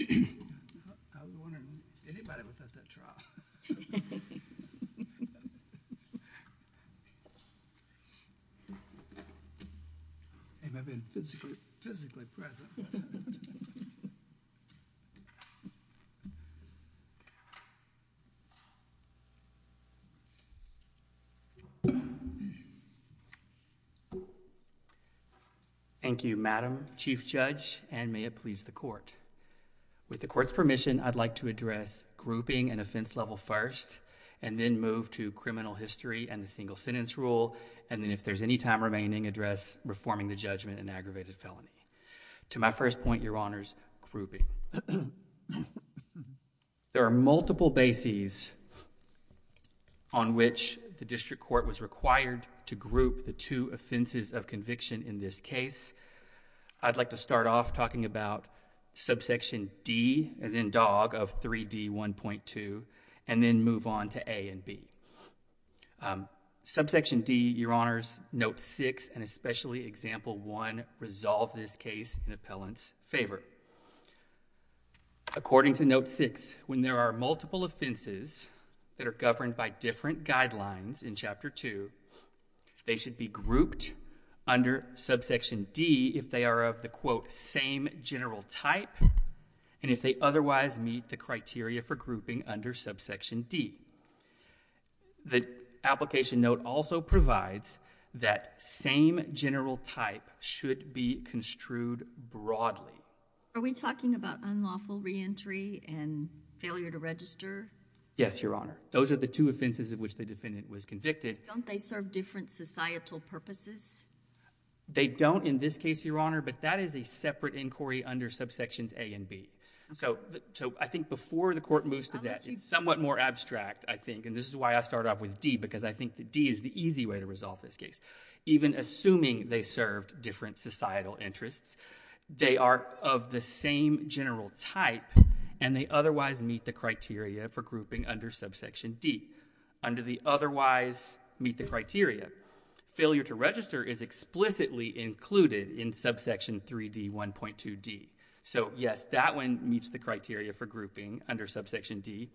I was wondering if anybody would pass that trial, if I've been physically present. Thank you, Madam Chief Judge, and may it please the Court. With the Court's permission, I'd like to address grouping and offense level first, and then move to criminal history and the single-sentence rule, and then, if there's any time remaining, address reforming the judgment in aggravated felony. To my first point, Your Honors, grouping. There are multiple bases on which the District Court was required to group the two offenses of conviction in this case. I'd like to start off talking about Subsection D, as in Dog, of 3D1.2, and then move on to A and B. Subsection D, Your Honors, Note 6, and especially Example 1, resolve this case in appellant's favor. According to Note 6, when there are multiple offenses that are governed by different guidelines in Chapter 2, they should be grouped under Subsection D if they are of the, quote, same general type, and if they otherwise meet the criteria for grouping under Subsection D. The application note also provides that same general type should be construed broadly. Are we talking about unlawful reentry and failure to register? Yes, Your Honor. Those are the two offenses of which the defendant was convicted. Don't they serve different societal purposes? They don't in this case, Your Honor, but that is a separate inquiry under Subsections A and B. So I think before the court moves to that, it's somewhat more abstract, I think, and this is why I started off with D, because I think that D is the easy way to resolve this case. Even assuming they served different societal interests, they are of the same general type, and they otherwise meet the criteria for grouping under Subsection D. Under the otherwise meet the criteria, failure to register is explicitly included in Subsection 3D1.2D. So, yes, that one meets the criteria for grouping under Subsection D.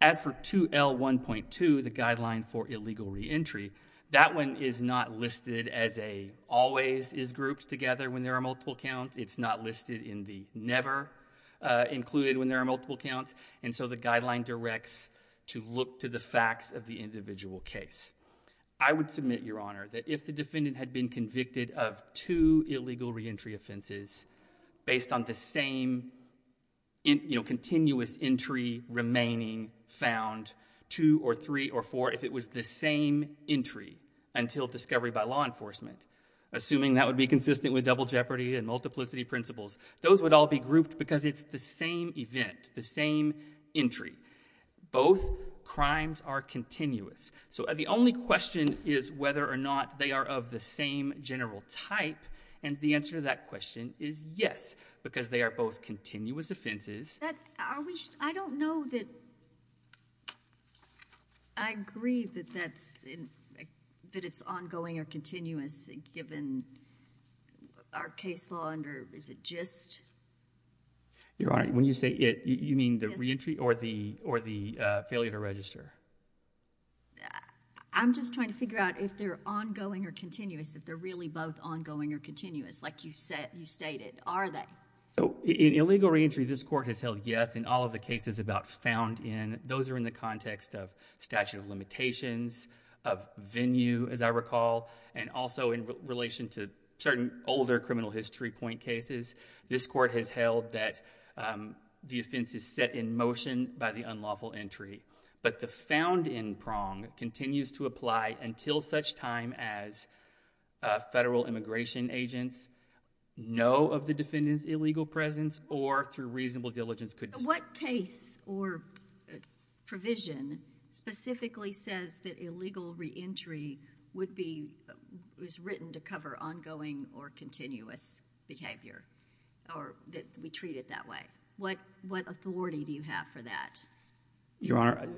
As for 2L1.2, the guideline for illegal reentry, that one is not listed as a always is grouped together when there are multiple counts. It's not listed in the never included when there are multiple counts, and so the guideline directs to look to the facts of the individual case. I would submit, Your Honor, that if the defendant had been convicted of two illegal reentry offenses based on the same continuous entry remaining found, two or three or four, if it was the same entry until discovery by law enforcement, assuming that would be consistent with double jeopardy and multiplicity principles, those would all be grouped because it's the same event, the same entry. Both crimes are continuous. So the only question is whether or not they are of the same general type, and the answer to that question is yes, because they are both continuous offenses. Are we – I don't know that – I agree that that's – that it's ongoing or continuous given our case law under – is it just? Your Honor, when you say it, you mean the reentry or the failure to register? I'm just trying to figure out if they're ongoing or continuous, if they're really both ongoing or continuous like you said – you stated. Are they? So in illegal reentry, this court has held yes in all of the cases about found in. Those are in the context of statute of limitations, of venue, as I recall, and also in relation to certain older criminal history point cases. This court has held that the offense is set in motion by the unlawful entry, but the found in prong continues to apply until such time as federal immigration agents know of the defendant's illegal presence or through reasonable diligence could – or provision specifically says that illegal reentry would be – was written to cover ongoing or continuous behavior, or that we treat it that way. What authority do you have for that? Your Honor,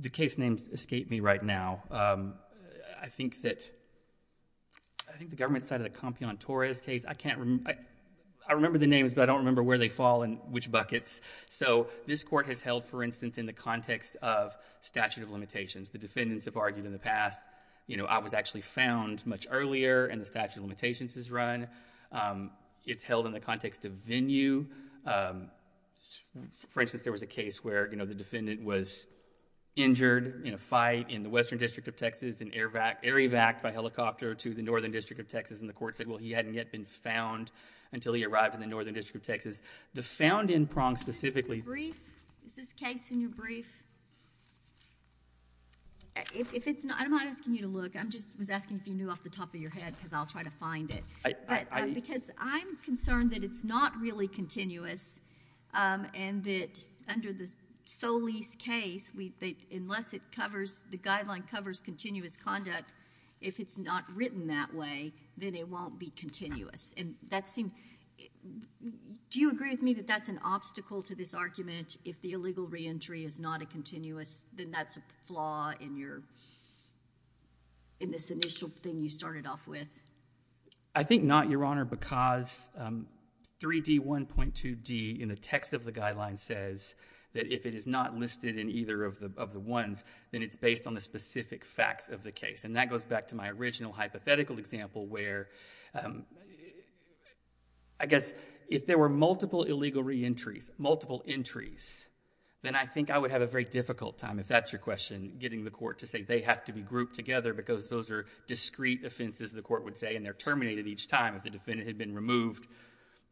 the case names escape me right now. I think that – I think the government cited a Compion-Torres case. I can't – I remember the names, but I don't remember where they fall and which buckets. So this court has held, for instance, in the context of statute of limitations. The defendants have argued in the past, you know, I was actually found much earlier and the statute of limitations is run. It's held in the context of venue. For instance, there was a case where, you know, the defendant was injured in a fight in the Western District of Texas and air evac'd by helicopter to the Northern District of Texas, and the court said, well, he hadn't yet been found until he arrived in the Northern District of Texas. The found-in prong specifically— Is this case in your brief? If it's not, I'm not asking you to look. I just was asking if you knew off the top of your head because I'll try to find it. Because I'm concerned that it's not really continuous and that under the Solis case, unless it covers – the guideline covers continuous conduct, if it's not written that way, then it won't be continuous. Do you agree with me that that's an obstacle to this argument? If the illegal reentry is not a continuous, then that's a flaw in this initial thing you started off with? I think not, Your Honor, because 3D1.2D in the text of the guideline says that if it is not listed in either of the ones, then it's based on the specific facts of the case. And that goes back to my original hypothetical example where I guess if there were multiple illegal reentries, multiple entries, then I think I would have a very difficult time, if that's your question, getting the court to say they have to be grouped together because those are discrete offenses, the court would say, and they're terminated each time. If the defendant had been removed,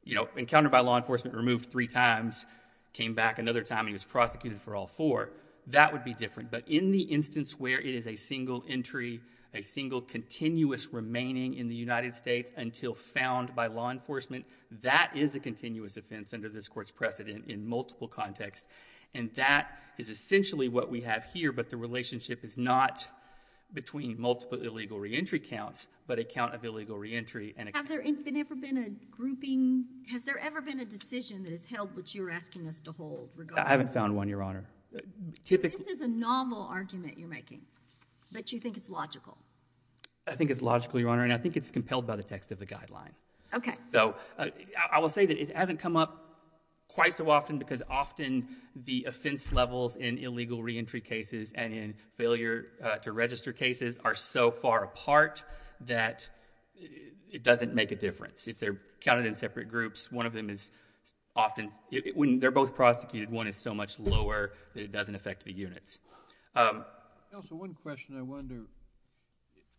you know, encountered by law enforcement, removed three times, came back another time, and he was prosecuted for all four, that would be different. But in the instance where it is a single entry, a single continuous remaining in the United States until found by law enforcement, that is a continuous offense under this court's precedent in multiple contexts. And that is essentially what we have here, but the relationship is not between multiple illegal reentry counts, but a count of illegal reentry and a count of illegal reentry. Has there ever been a decision that has held what you're asking us to hold? I haven't found one, Your Honor. This is a novel argument you're making, but you think it's logical. I think it's logical, Your Honor, and I think it's compelled by the text of the guideline. Okay. So I will say that it hasn't come up quite so often because often the offense levels in illegal reentry cases and in failure to register cases are so far apart that it doesn't make a difference. If they're counted in separate groups, one of them is often, when they're both prosecuted, one is so much lower that it doesn't affect the units. Counsel, one question I wonder.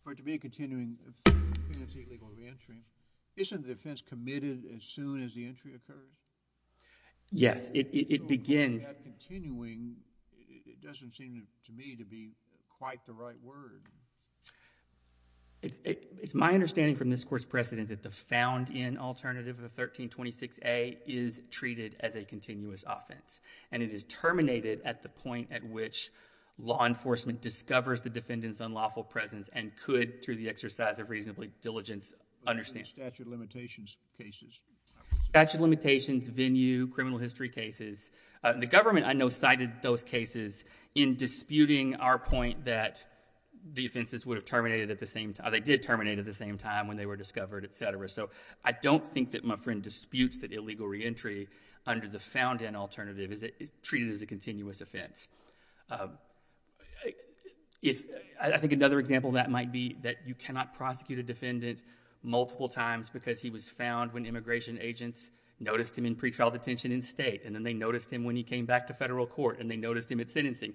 For it to be a continuing penalty illegal reentry, isn't the offense committed as soon as the entry occurs? Yes, it begins... Continuing doesn't seem to me to be quite the right word. It's my understanding from this court's precedent that the found-in alternative of 1326A is treated as a continuous offense, and it is terminated at the point at which law enforcement discovers the defendant's unlawful presence and could, through the exercise of reasonable diligence, understand. Statute of limitations cases. Statute of limitations, venue, criminal history cases. The government, I know, cited those cases in disputing our point that the offenses would have terminated at the same time... They did terminate at the same time when they were discovered, etc. So I don't think that Muffrin disputes that illegal reentry under the found-in alternative is treated as a continuous offense. I think another example of that might be that you cannot prosecute a defendant multiple times because he was found when immigration agents noticed him in pretrial detention in state, and then they noticed him when he came back to federal court, and they noticed him at sentencing.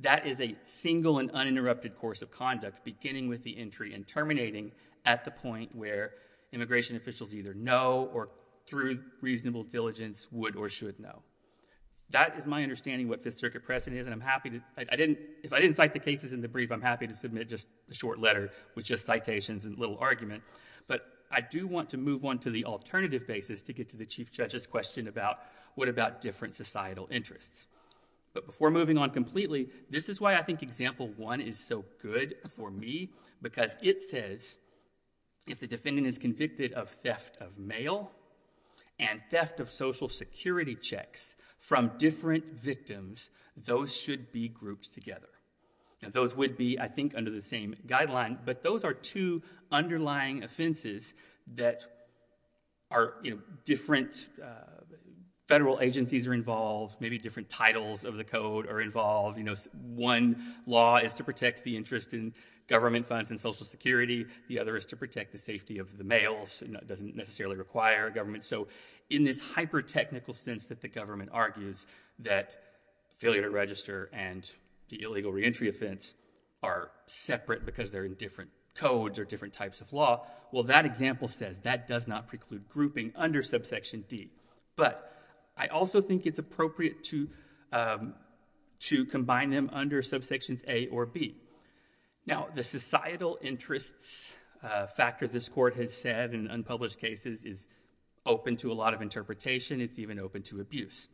That is a single and uninterrupted course of conduct, beginning with the entry and terminating at the point where immigration officials either know or, through reasonable diligence, would or should know. That is my understanding of what this circuit precedent is, and I'm happy to... If I didn't cite the cases in the brief, I'm happy to submit just a short letter with just citations and little argument, but I do want to move on to the alternative basis to get to the Chief Judge's question about what about different societal interests. But before moving on completely, this is why I think Example 1 is so good for me, because it says, if the defendant is convicted of theft of mail and theft of Social Security checks from different victims, those should be grouped together. And those would be, I think, under the same guideline, but those are two underlying offenses that are, you know, different... Federal agencies are involved, maybe different titles of the code are involved. You know, one law is to protect the interest in government funds and Social Security. The other is to protect the safety of the mails. It doesn't necessarily require government. So in this hyper-technical sense that the government argues that failure to register and the illegal reentry offense are separate because they're in different codes or different types of law, well, that example says that does not preclude grouping under Subsection D. But I also think it's appropriate to... to combine them under Subsections A or B. Now, the societal interests factor this court has said in unpublished cases is open to a lot of interpretation. It's even open to abuse.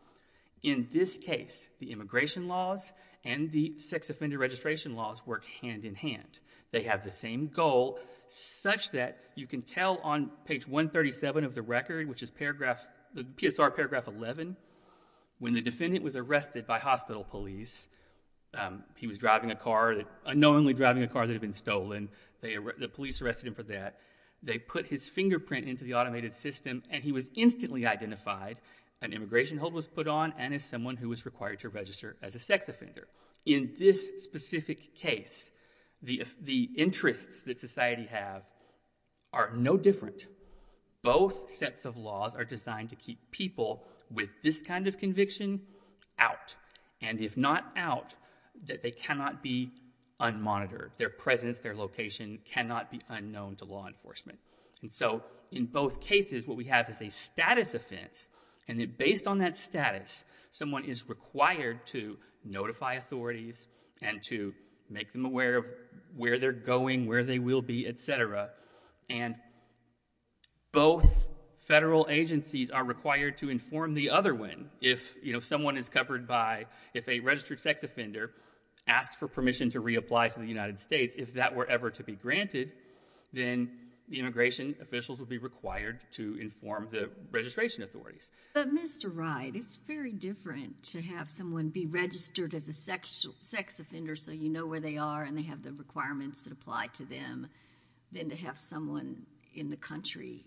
In this case, the immigration laws and the sex offender registration laws work hand in hand. They have the same goal, such that you can tell on page 137 of the record, which is paragraph... PSR paragraph 11, when the defendant was arrested by hospital police, he was driving a car, unknowingly driving a car that had been stolen. The police arrested him for that. They put his fingerprint into the automated system, and he was instantly identified. An immigration hold was put on and as someone who was required to register as a sex offender. In this specific case, the interests that society have are no different. Both sets of laws are designed to keep people with this kind of conviction out. And if not out, that they cannot be unmonitored. Their presence, their location cannot be unknown to law enforcement. And so in both cases, what we have is a status offense, and based on that status, someone is required to notify authorities and to make them aware of where they're going, where they will be, etc. And both federal agencies are required to inform the other one. If someone is covered by... If a registered sex offender asks for permission to reapply to the United States, if that were ever to be granted, then the immigration officials would be required to inform the registration authorities. But Mr. Wright, it's very different to have someone be registered as a sex offender so you know where they are and they have the requirements that apply to them than to have someone in the country...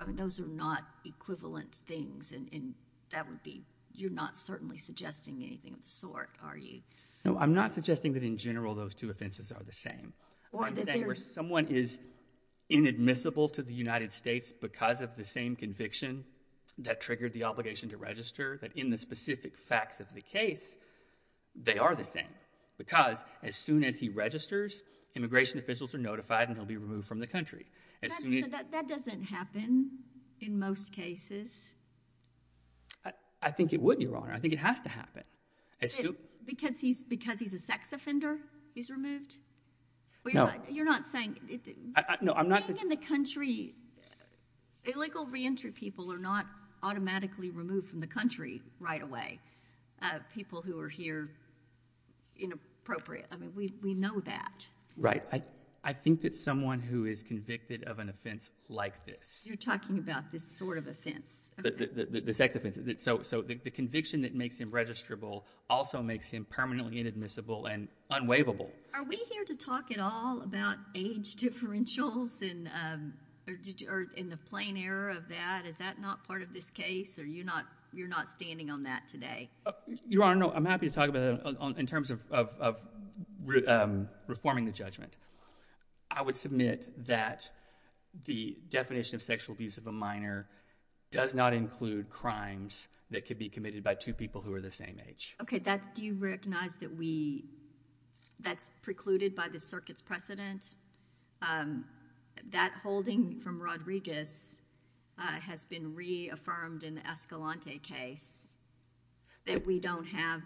I mean, those are not equivalent things, and that would be... You're not certainly suggesting anything of the sort, are you? No, I'm not suggesting that in general those two offenses are the same. I'm saying where someone is inadmissible to the United States because of the same conviction that triggered the obligation to register, that in the specific facts of the case, they are the same. Because as soon as he registers, immigration officials are notified and he'll be removed from the country. That doesn't happen in most cases. I think it would, Your Honor. I think it has to happen. Because he's a sex offender, he's removed? No. You're not saying... Being in the country, illegal re-entry people are not automatically removed from the country right away. People who are here, inappropriate. I mean, we know that. Right. I think that someone who is convicted of an offense like this... You're talking about this sort of offense. The sex offense. So the conviction that makes him registrable also makes him permanently inadmissible and unwaivable. Are we here to talk at all about age differentials or in the plain error of that? Is that not part of this case? Or you're not standing on that today? Your Honor, I'm happy to talk about it in terms of reforming the judgment. I would submit that the definition of sexual abuse of a minor does not include crimes that could be committed by two people who are the same age. Okay, do you recognize that we... That's precluded by the circuit's precedent? That holding from Rodriguez has been reaffirmed in the Escalante case? That we don't have...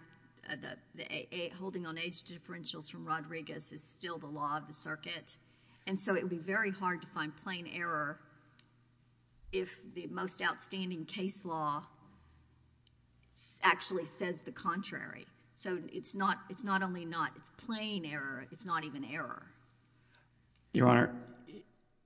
Holding on age differentials from Rodriguez is still the law of the circuit? And so it would be very hard to find plain error if the most outstanding case law actually says the contrary. So it's not only not... It's plain error, it's not even error. Your Honor,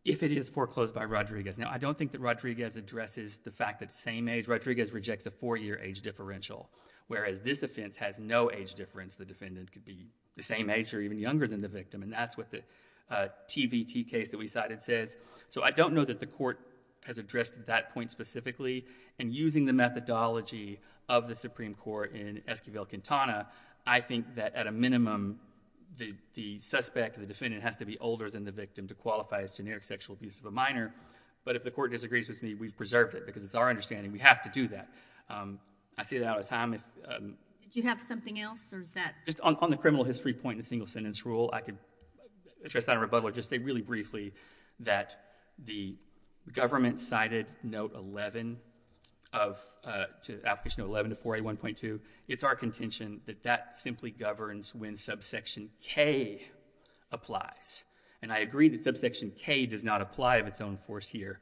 if it is foreclosed by Rodriguez, I don't think that Rodriguez addresses the fact that same age... Rodriguez rejects a four-year age differential, whereas this offense has no age difference. The defendant could be the same age or even younger than the victim, and that's what the TVT case that we cited says. So I don't know that the court has addressed that point specifically. And using the methodology of the Supreme Court in Esquivel-Quintana, I think that, at a minimum, the suspect, the defendant, has to be older than the victim to qualify as generic sexual abuse of a minor. But if the court disagrees with me, we've preserved it, because it's our understanding we have to do that. I say that out of time. Do you have something else, or is that...? Just on the criminal history point in the single-sentence rule, I could address that in rebuttal or just say really briefly that the government cited Note 11 of... Application 11 to 4A1.2, it's our contention that that simply governs when subsection K applies. And I agree that subsection K does not apply of its own force here.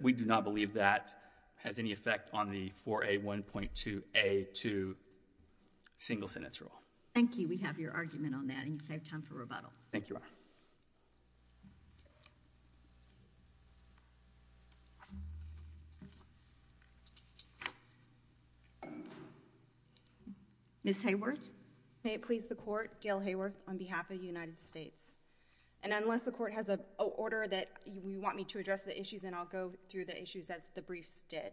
We do not believe that has any effect on the 4A1.2A2 single-sentence rule. Thank you. We have your argument on that, and you've saved time for rebuttal. Thank you, Your Honor. Ms. Hayworth? May it please the court, Gail Hayworth on behalf of the United States. And unless the court has an order that you want me to address the issues, then I'll go through the issues as the briefs did.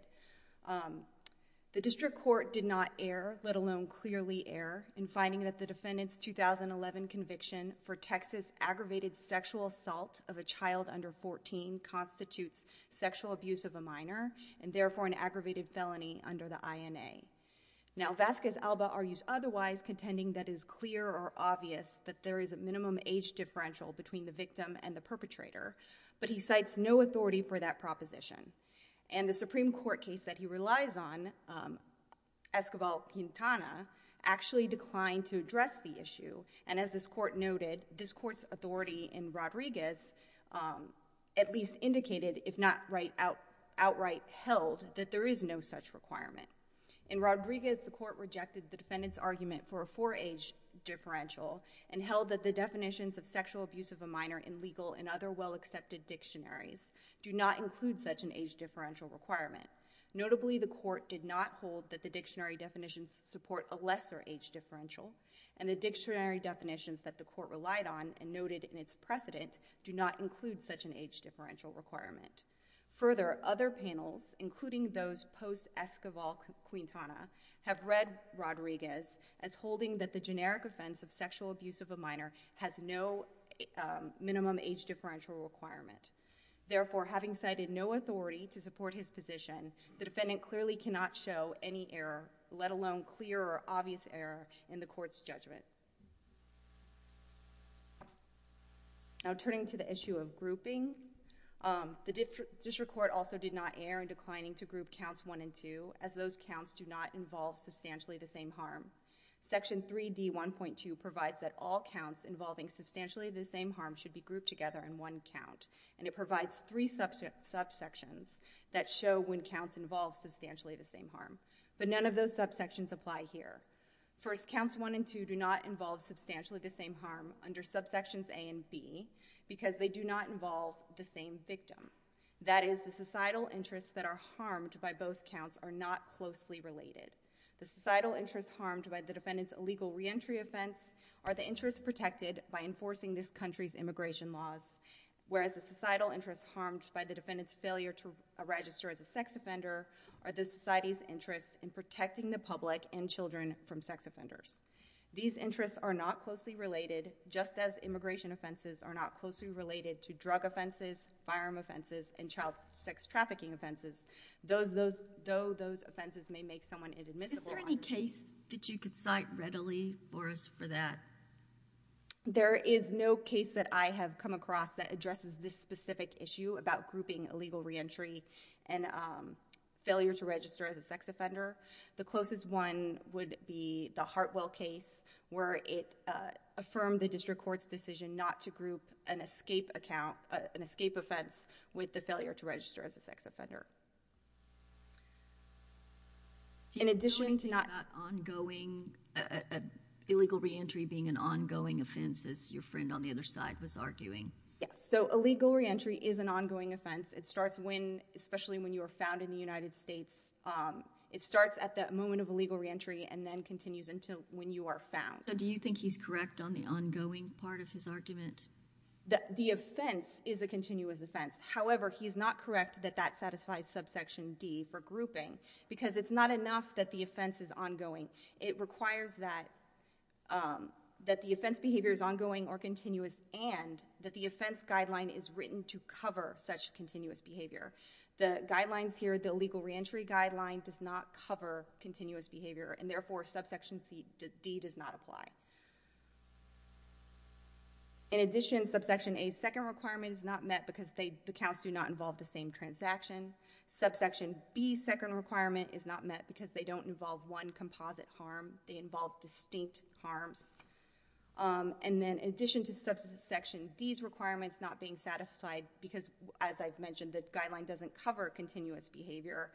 The district court did not err, let alone clearly err, in finding that the defendant's 2011 conviction for Texas aggravated sexual assault of a child under 14 constitutes sexual abuse of a minor, and therefore an aggravated felony under the INA. Now, Vasquez-Alba argues otherwise, contending that it is clear or obvious that there is a minimum age differential between the victim and the perpetrator, but he cites no authority for that proposition. And the Supreme Court case that he relies on, Esquivel-Quintana, actually declined to address the issue, and as this court noted, this court's authority in Rodriguez at least indicated, if not outright held, that there is no such requirement. In Rodriguez, the court rejected the defendant's argument for a four-age differential and held that the definitions of sexual abuse of a minor in legal and other well-accepted dictionaries do not include such an age differential requirement. Notably, the court did not hold that the dictionary definitions support a lesser age differential, and the dictionary definitions that the court relied on and noted in its precedent do not include such an age differential requirement. Further, other panels, including those post-Esquivel-Quintana, have read Rodriguez as holding that the generic offense of sexual abuse of a minor has no minimum age differential requirement. Therefore, having cited no authority to support his position, the defendant clearly cannot show any error, let alone clear or obvious error, in the court's judgment. Now, turning to the issue of grouping, the district court also did not err in declining to group counts 1 and 2 as those counts do not involve substantially the same harm. Section 3D1.2 provides that all counts involving substantially the same harm should be grouped together in one count, and it provides three subsections that show when counts involve substantially the same harm, but none of those subsections apply here. First, counts 1 and 2 do not involve substantially the same harm under subsections A and B because they do not involve the same victim. That is, the societal interests that are harmed by both counts are not closely related. The societal interests harmed by the defendant's illegal reentry offense are the interests protected by enforcing this country's immigration laws, whereas the societal interests harmed by the defendant's failure to register as a sex offender are the society's interests in protecting the public and children from sex offenders. These interests are not closely related, just as immigration offenses are not closely related to drug offenses, firearm offenses, and child sex trafficking offenses, though those offenses may make someone inadmissible. Is there any case that you could cite readily for us for that? There is no case that I have come across that addresses this specific issue about grouping illegal reentry and failure to register as a sex offender. The closest one would be the Hartwell case, where it affirmed the district court's decision not to group an escape account, an escape offense, with the failure to register as a sex offender. In addition to not... Do you mean that ongoing, illegal reentry being an ongoing offense, as your friend on the other side was arguing? Yes, so illegal reentry is an ongoing offense. It starts when, especially when you are found in the United States, it starts at the moment of illegal reentry and then continues until when you are found. So do you think he's correct on the ongoing part of his argument? The offense is a continuous offense. However, he's not correct that that satisfies subsection D for grouping, because it's not enough that the offense is ongoing. It requires that the offense behavior is ongoing or continuous and that the offense guideline is written to cover such continuous behavior. The guidelines here, the illegal reentry guideline, does not cover continuous behavior, and therefore subsection D does not apply. In addition, subsection A's second requirement is not met because the accounts do not involve the same transaction. Subsection B's second requirement is not met because they don't involve one composite harm. They involve distinct harms. And then in addition to subsection D's requirements not being satisfied because, as I've mentioned, the guideline doesn't cover continuous behavior,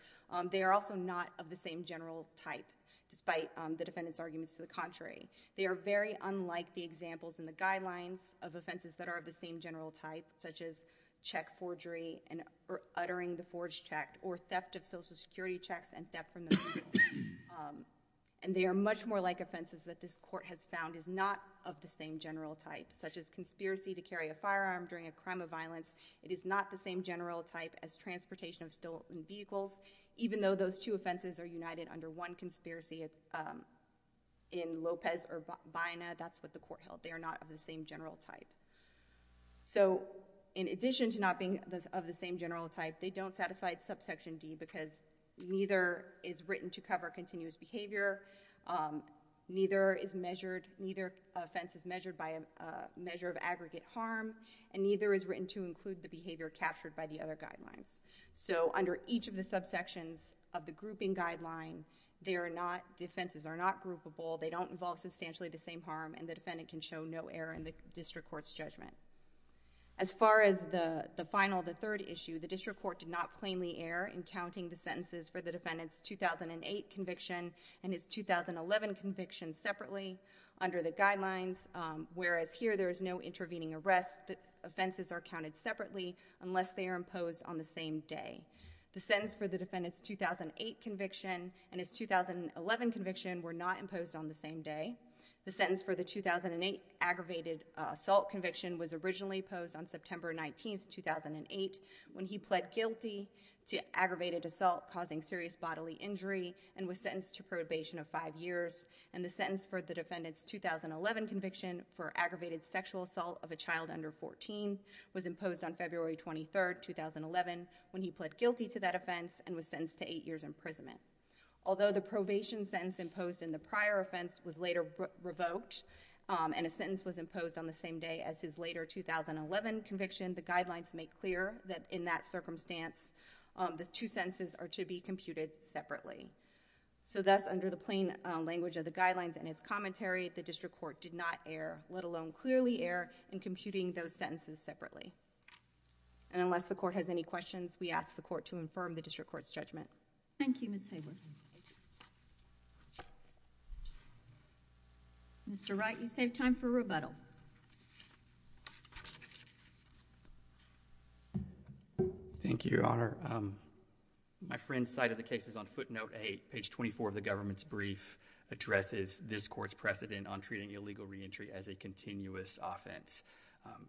they are also not of the same general type, despite the defendant's arguments to the contrary. They are very unlike the examples in the guidelines of offenses that are of the same general type, such as check forgery or uttering the forged check or theft of Social Security checks and theft from the mail. And they are much more like offenses that this court has found is not of the same general type, such as conspiracy to carry a firearm during a crime of violence. It is not the same general type as transportation of stolen vehicles, even though those two offenses are united under one conspiracy in Lopez or Vaina. That's what the court held. They are not of the same general type. So in addition to not being of the same general type, they don't satisfy subsection D because neither is written to cover continuous behavior, neither offense is measured by a measure of aggregate harm, and neither is written to include the behavior captured by the other guidelines. So under each of the subsections of the grouping guideline, the offenses are not groupable, they don't involve substantially the same harm, and the defendant can show no error in the district court's judgment. As far as the final, the third issue, the district court did not plainly err in counting the sentences for the defendant's 2008 conviction and his 2011 conviction separately under the guidelines, whereas here there is no intervening arrest. The offenses are counted separately unless they are imposed on the same day. The sentence for the defendant's 2008 conviction and his 2011 conviction were not imposed on the same day. The sentence for the 2008 aggravated assault conviction was originally posed on September 19, 2008, when he pled guilty to aggravated assault causing serious bodily injury and was sentenced to probation of five years. And the sentence for the defendant's 2011 conviction for aggravated sexual assault of a child under 14 was imposed on February 23, 2011, when he pled guilty to that offense and was sentenced to eight years imprisonment. Although the probation sentence imposed in the prior offense was later revoked, and a sentence was imposed on the same day as his later 2011 conviction, the guidelines make clear that in that circumstance the two sentences are to be computed separately. So thus, under the plain language of the guidelines and his commentary, the district court did not err, let alone clearly err in computing those sentences separately. And unless the court has any questions, we ask the court to infirm the district court's judgment. Thank you, Ms. Hayworth. Mr. Wright, you save time for rebuttal. Thank you, Your Honor. My friend cited the cases on footnote 8, page 24 of the government's brief, addresses this court's precedent on treating illegal reentry as a continuous offense.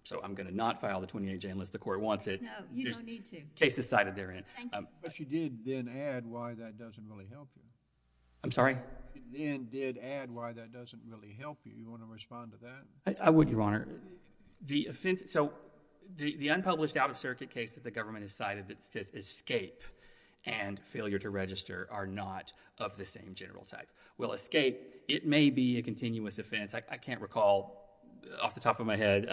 So I'm going to not file the 28J unless the court wants it. No, you don't need to. The case is cited therein. But you did then add why that doesn't really help you. I'm sorry? You then did add why that doesn't really help you. You want to respond to that? I would, Your Honor. So the unpublished out-of-circuit case that the government has cited that states escape and failure to register are not of the same general type. Well, escape, it may be a continuous offense. I can't recall off the top of my head.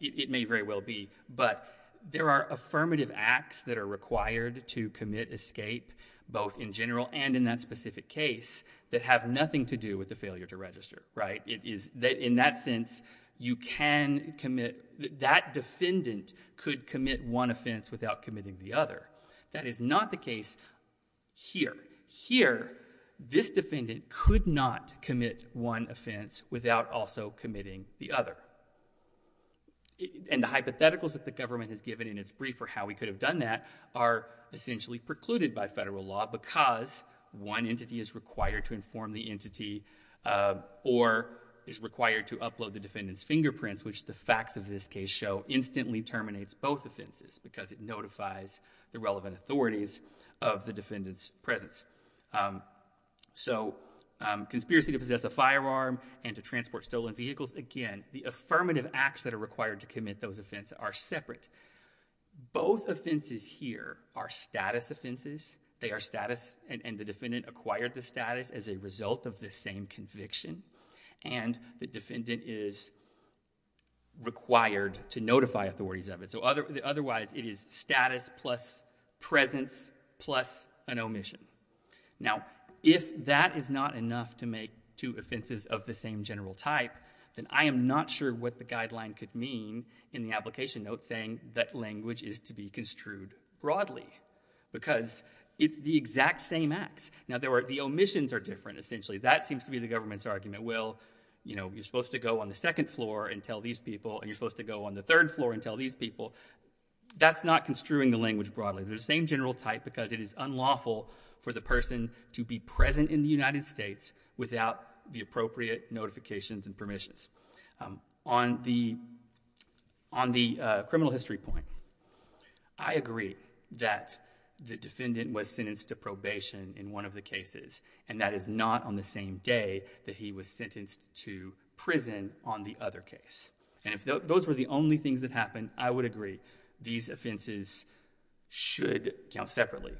It may very well be. But there are affirmative acts that are required to commit escape, both in general and in that specific case, that have nothing to do with the failure to register. In that sense, you can commit... That defendant could commit one offense without committing the other. That is not the case here. Here, this defendant could not commit one offense without also committing the other. And the hypotheticals that the government has given in its brief or how we could have done that are essentially precluded by federal law because one entity is required to inform the entity or is required to upload the defendant's fingerprints, which the facts of this case show instantly terminates both offenses because it notifies the relevant authorities of the defendant's presence. So conspiracy to possess a firearm and to transport stolen vehicles, again, the affirmative acts that are required to commit those offenses are separate. Both offenses here are status offenses. They are status... And the defendant acquired the status as a result of the same conviction. And the defendant is required to notify authorities of it. Otherwise, it is status plus presence plus an omission. Now, if that is not enough to make two offenses of the same general type, then I am not sure what the guideline could mean in the application note saying that language is to be construed broadly because it's the exact same acts. Now, the omissions are different, essentially. That seems to be the government's argument. Well, you're supposed to go on the second floor and tell these people, that's not construing the language broadly. They're the same general type because it is unlawful for the person to be present in the United States without the appropriate notifications and permissions. On the criminal history point, I agree that the defendant was sentenced to probation in one of the cases, and that is not on the same day that he was sentenced to prison on the other case. And if those were the only things that happened, I would agree these offenses should count separately.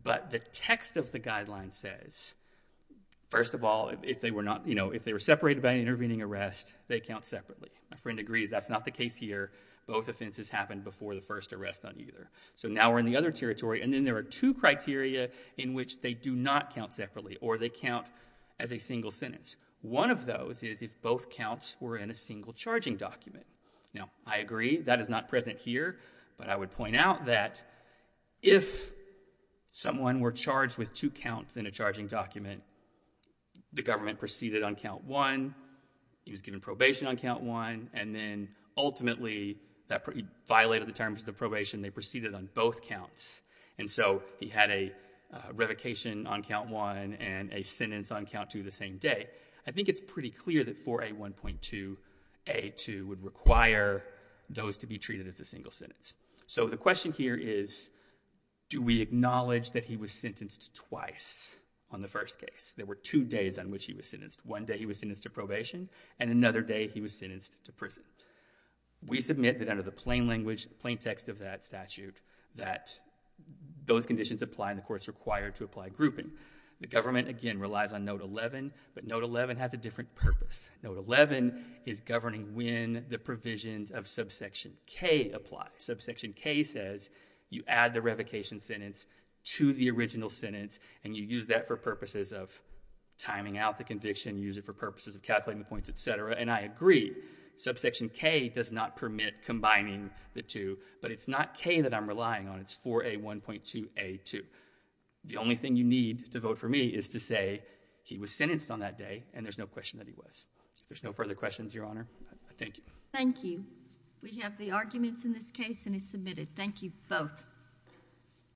But the text of the guideline says, first of all, if they were separated by an intervening arrest, they count separately. My friend agrees that's not the case here. Both offenses happened before the first arrest on either. So now we're in the other territory. And then there are two criteria in which they do not count separately or they count as a single sentence. One of those is if both counts were in a single charging document. Now, I agree that is not present here, but I would point out that if someone were charged with two counts in a charging document, the government proceeded on count one, he was given probation on count one, and then ultimately violated the terms of the probation, they proceeded on both counts. And so he had a revocation on count one and a sentence on count two the same day. I think it's pretty clear that 4A1.2A2 would require those to be treated as a single sentence. So the question here is, do we acknowledge that he was sentenced twice on the first case? There were two days on which he was sentenced. One day he was sentenced to probation, and another day he was sentenced to prison. We submit that under the plain language, plain text of that statute, that those conditions apply and the courts require to apply grouping. The government, again, relies on note 11, but note 11 has a different purpose. Note 11 is governing when the provisions of subsection K apply. Subsection K says you add the revocation sentence to the original sentence and you use that for purposes of timing out the conviction, use it for purposes of calculating the points, etc. And I agree, subsection K does not permit combining the two, but it's not K that I'm relying on. It's 4A1.2A2. The only thing you need to vote for me is to say he was sentenced on that day and there's no question that he was. If there's no further questions, Your Honor, I thank you. Thank you. We have the arguments in this case and it's submitted. Thank you both.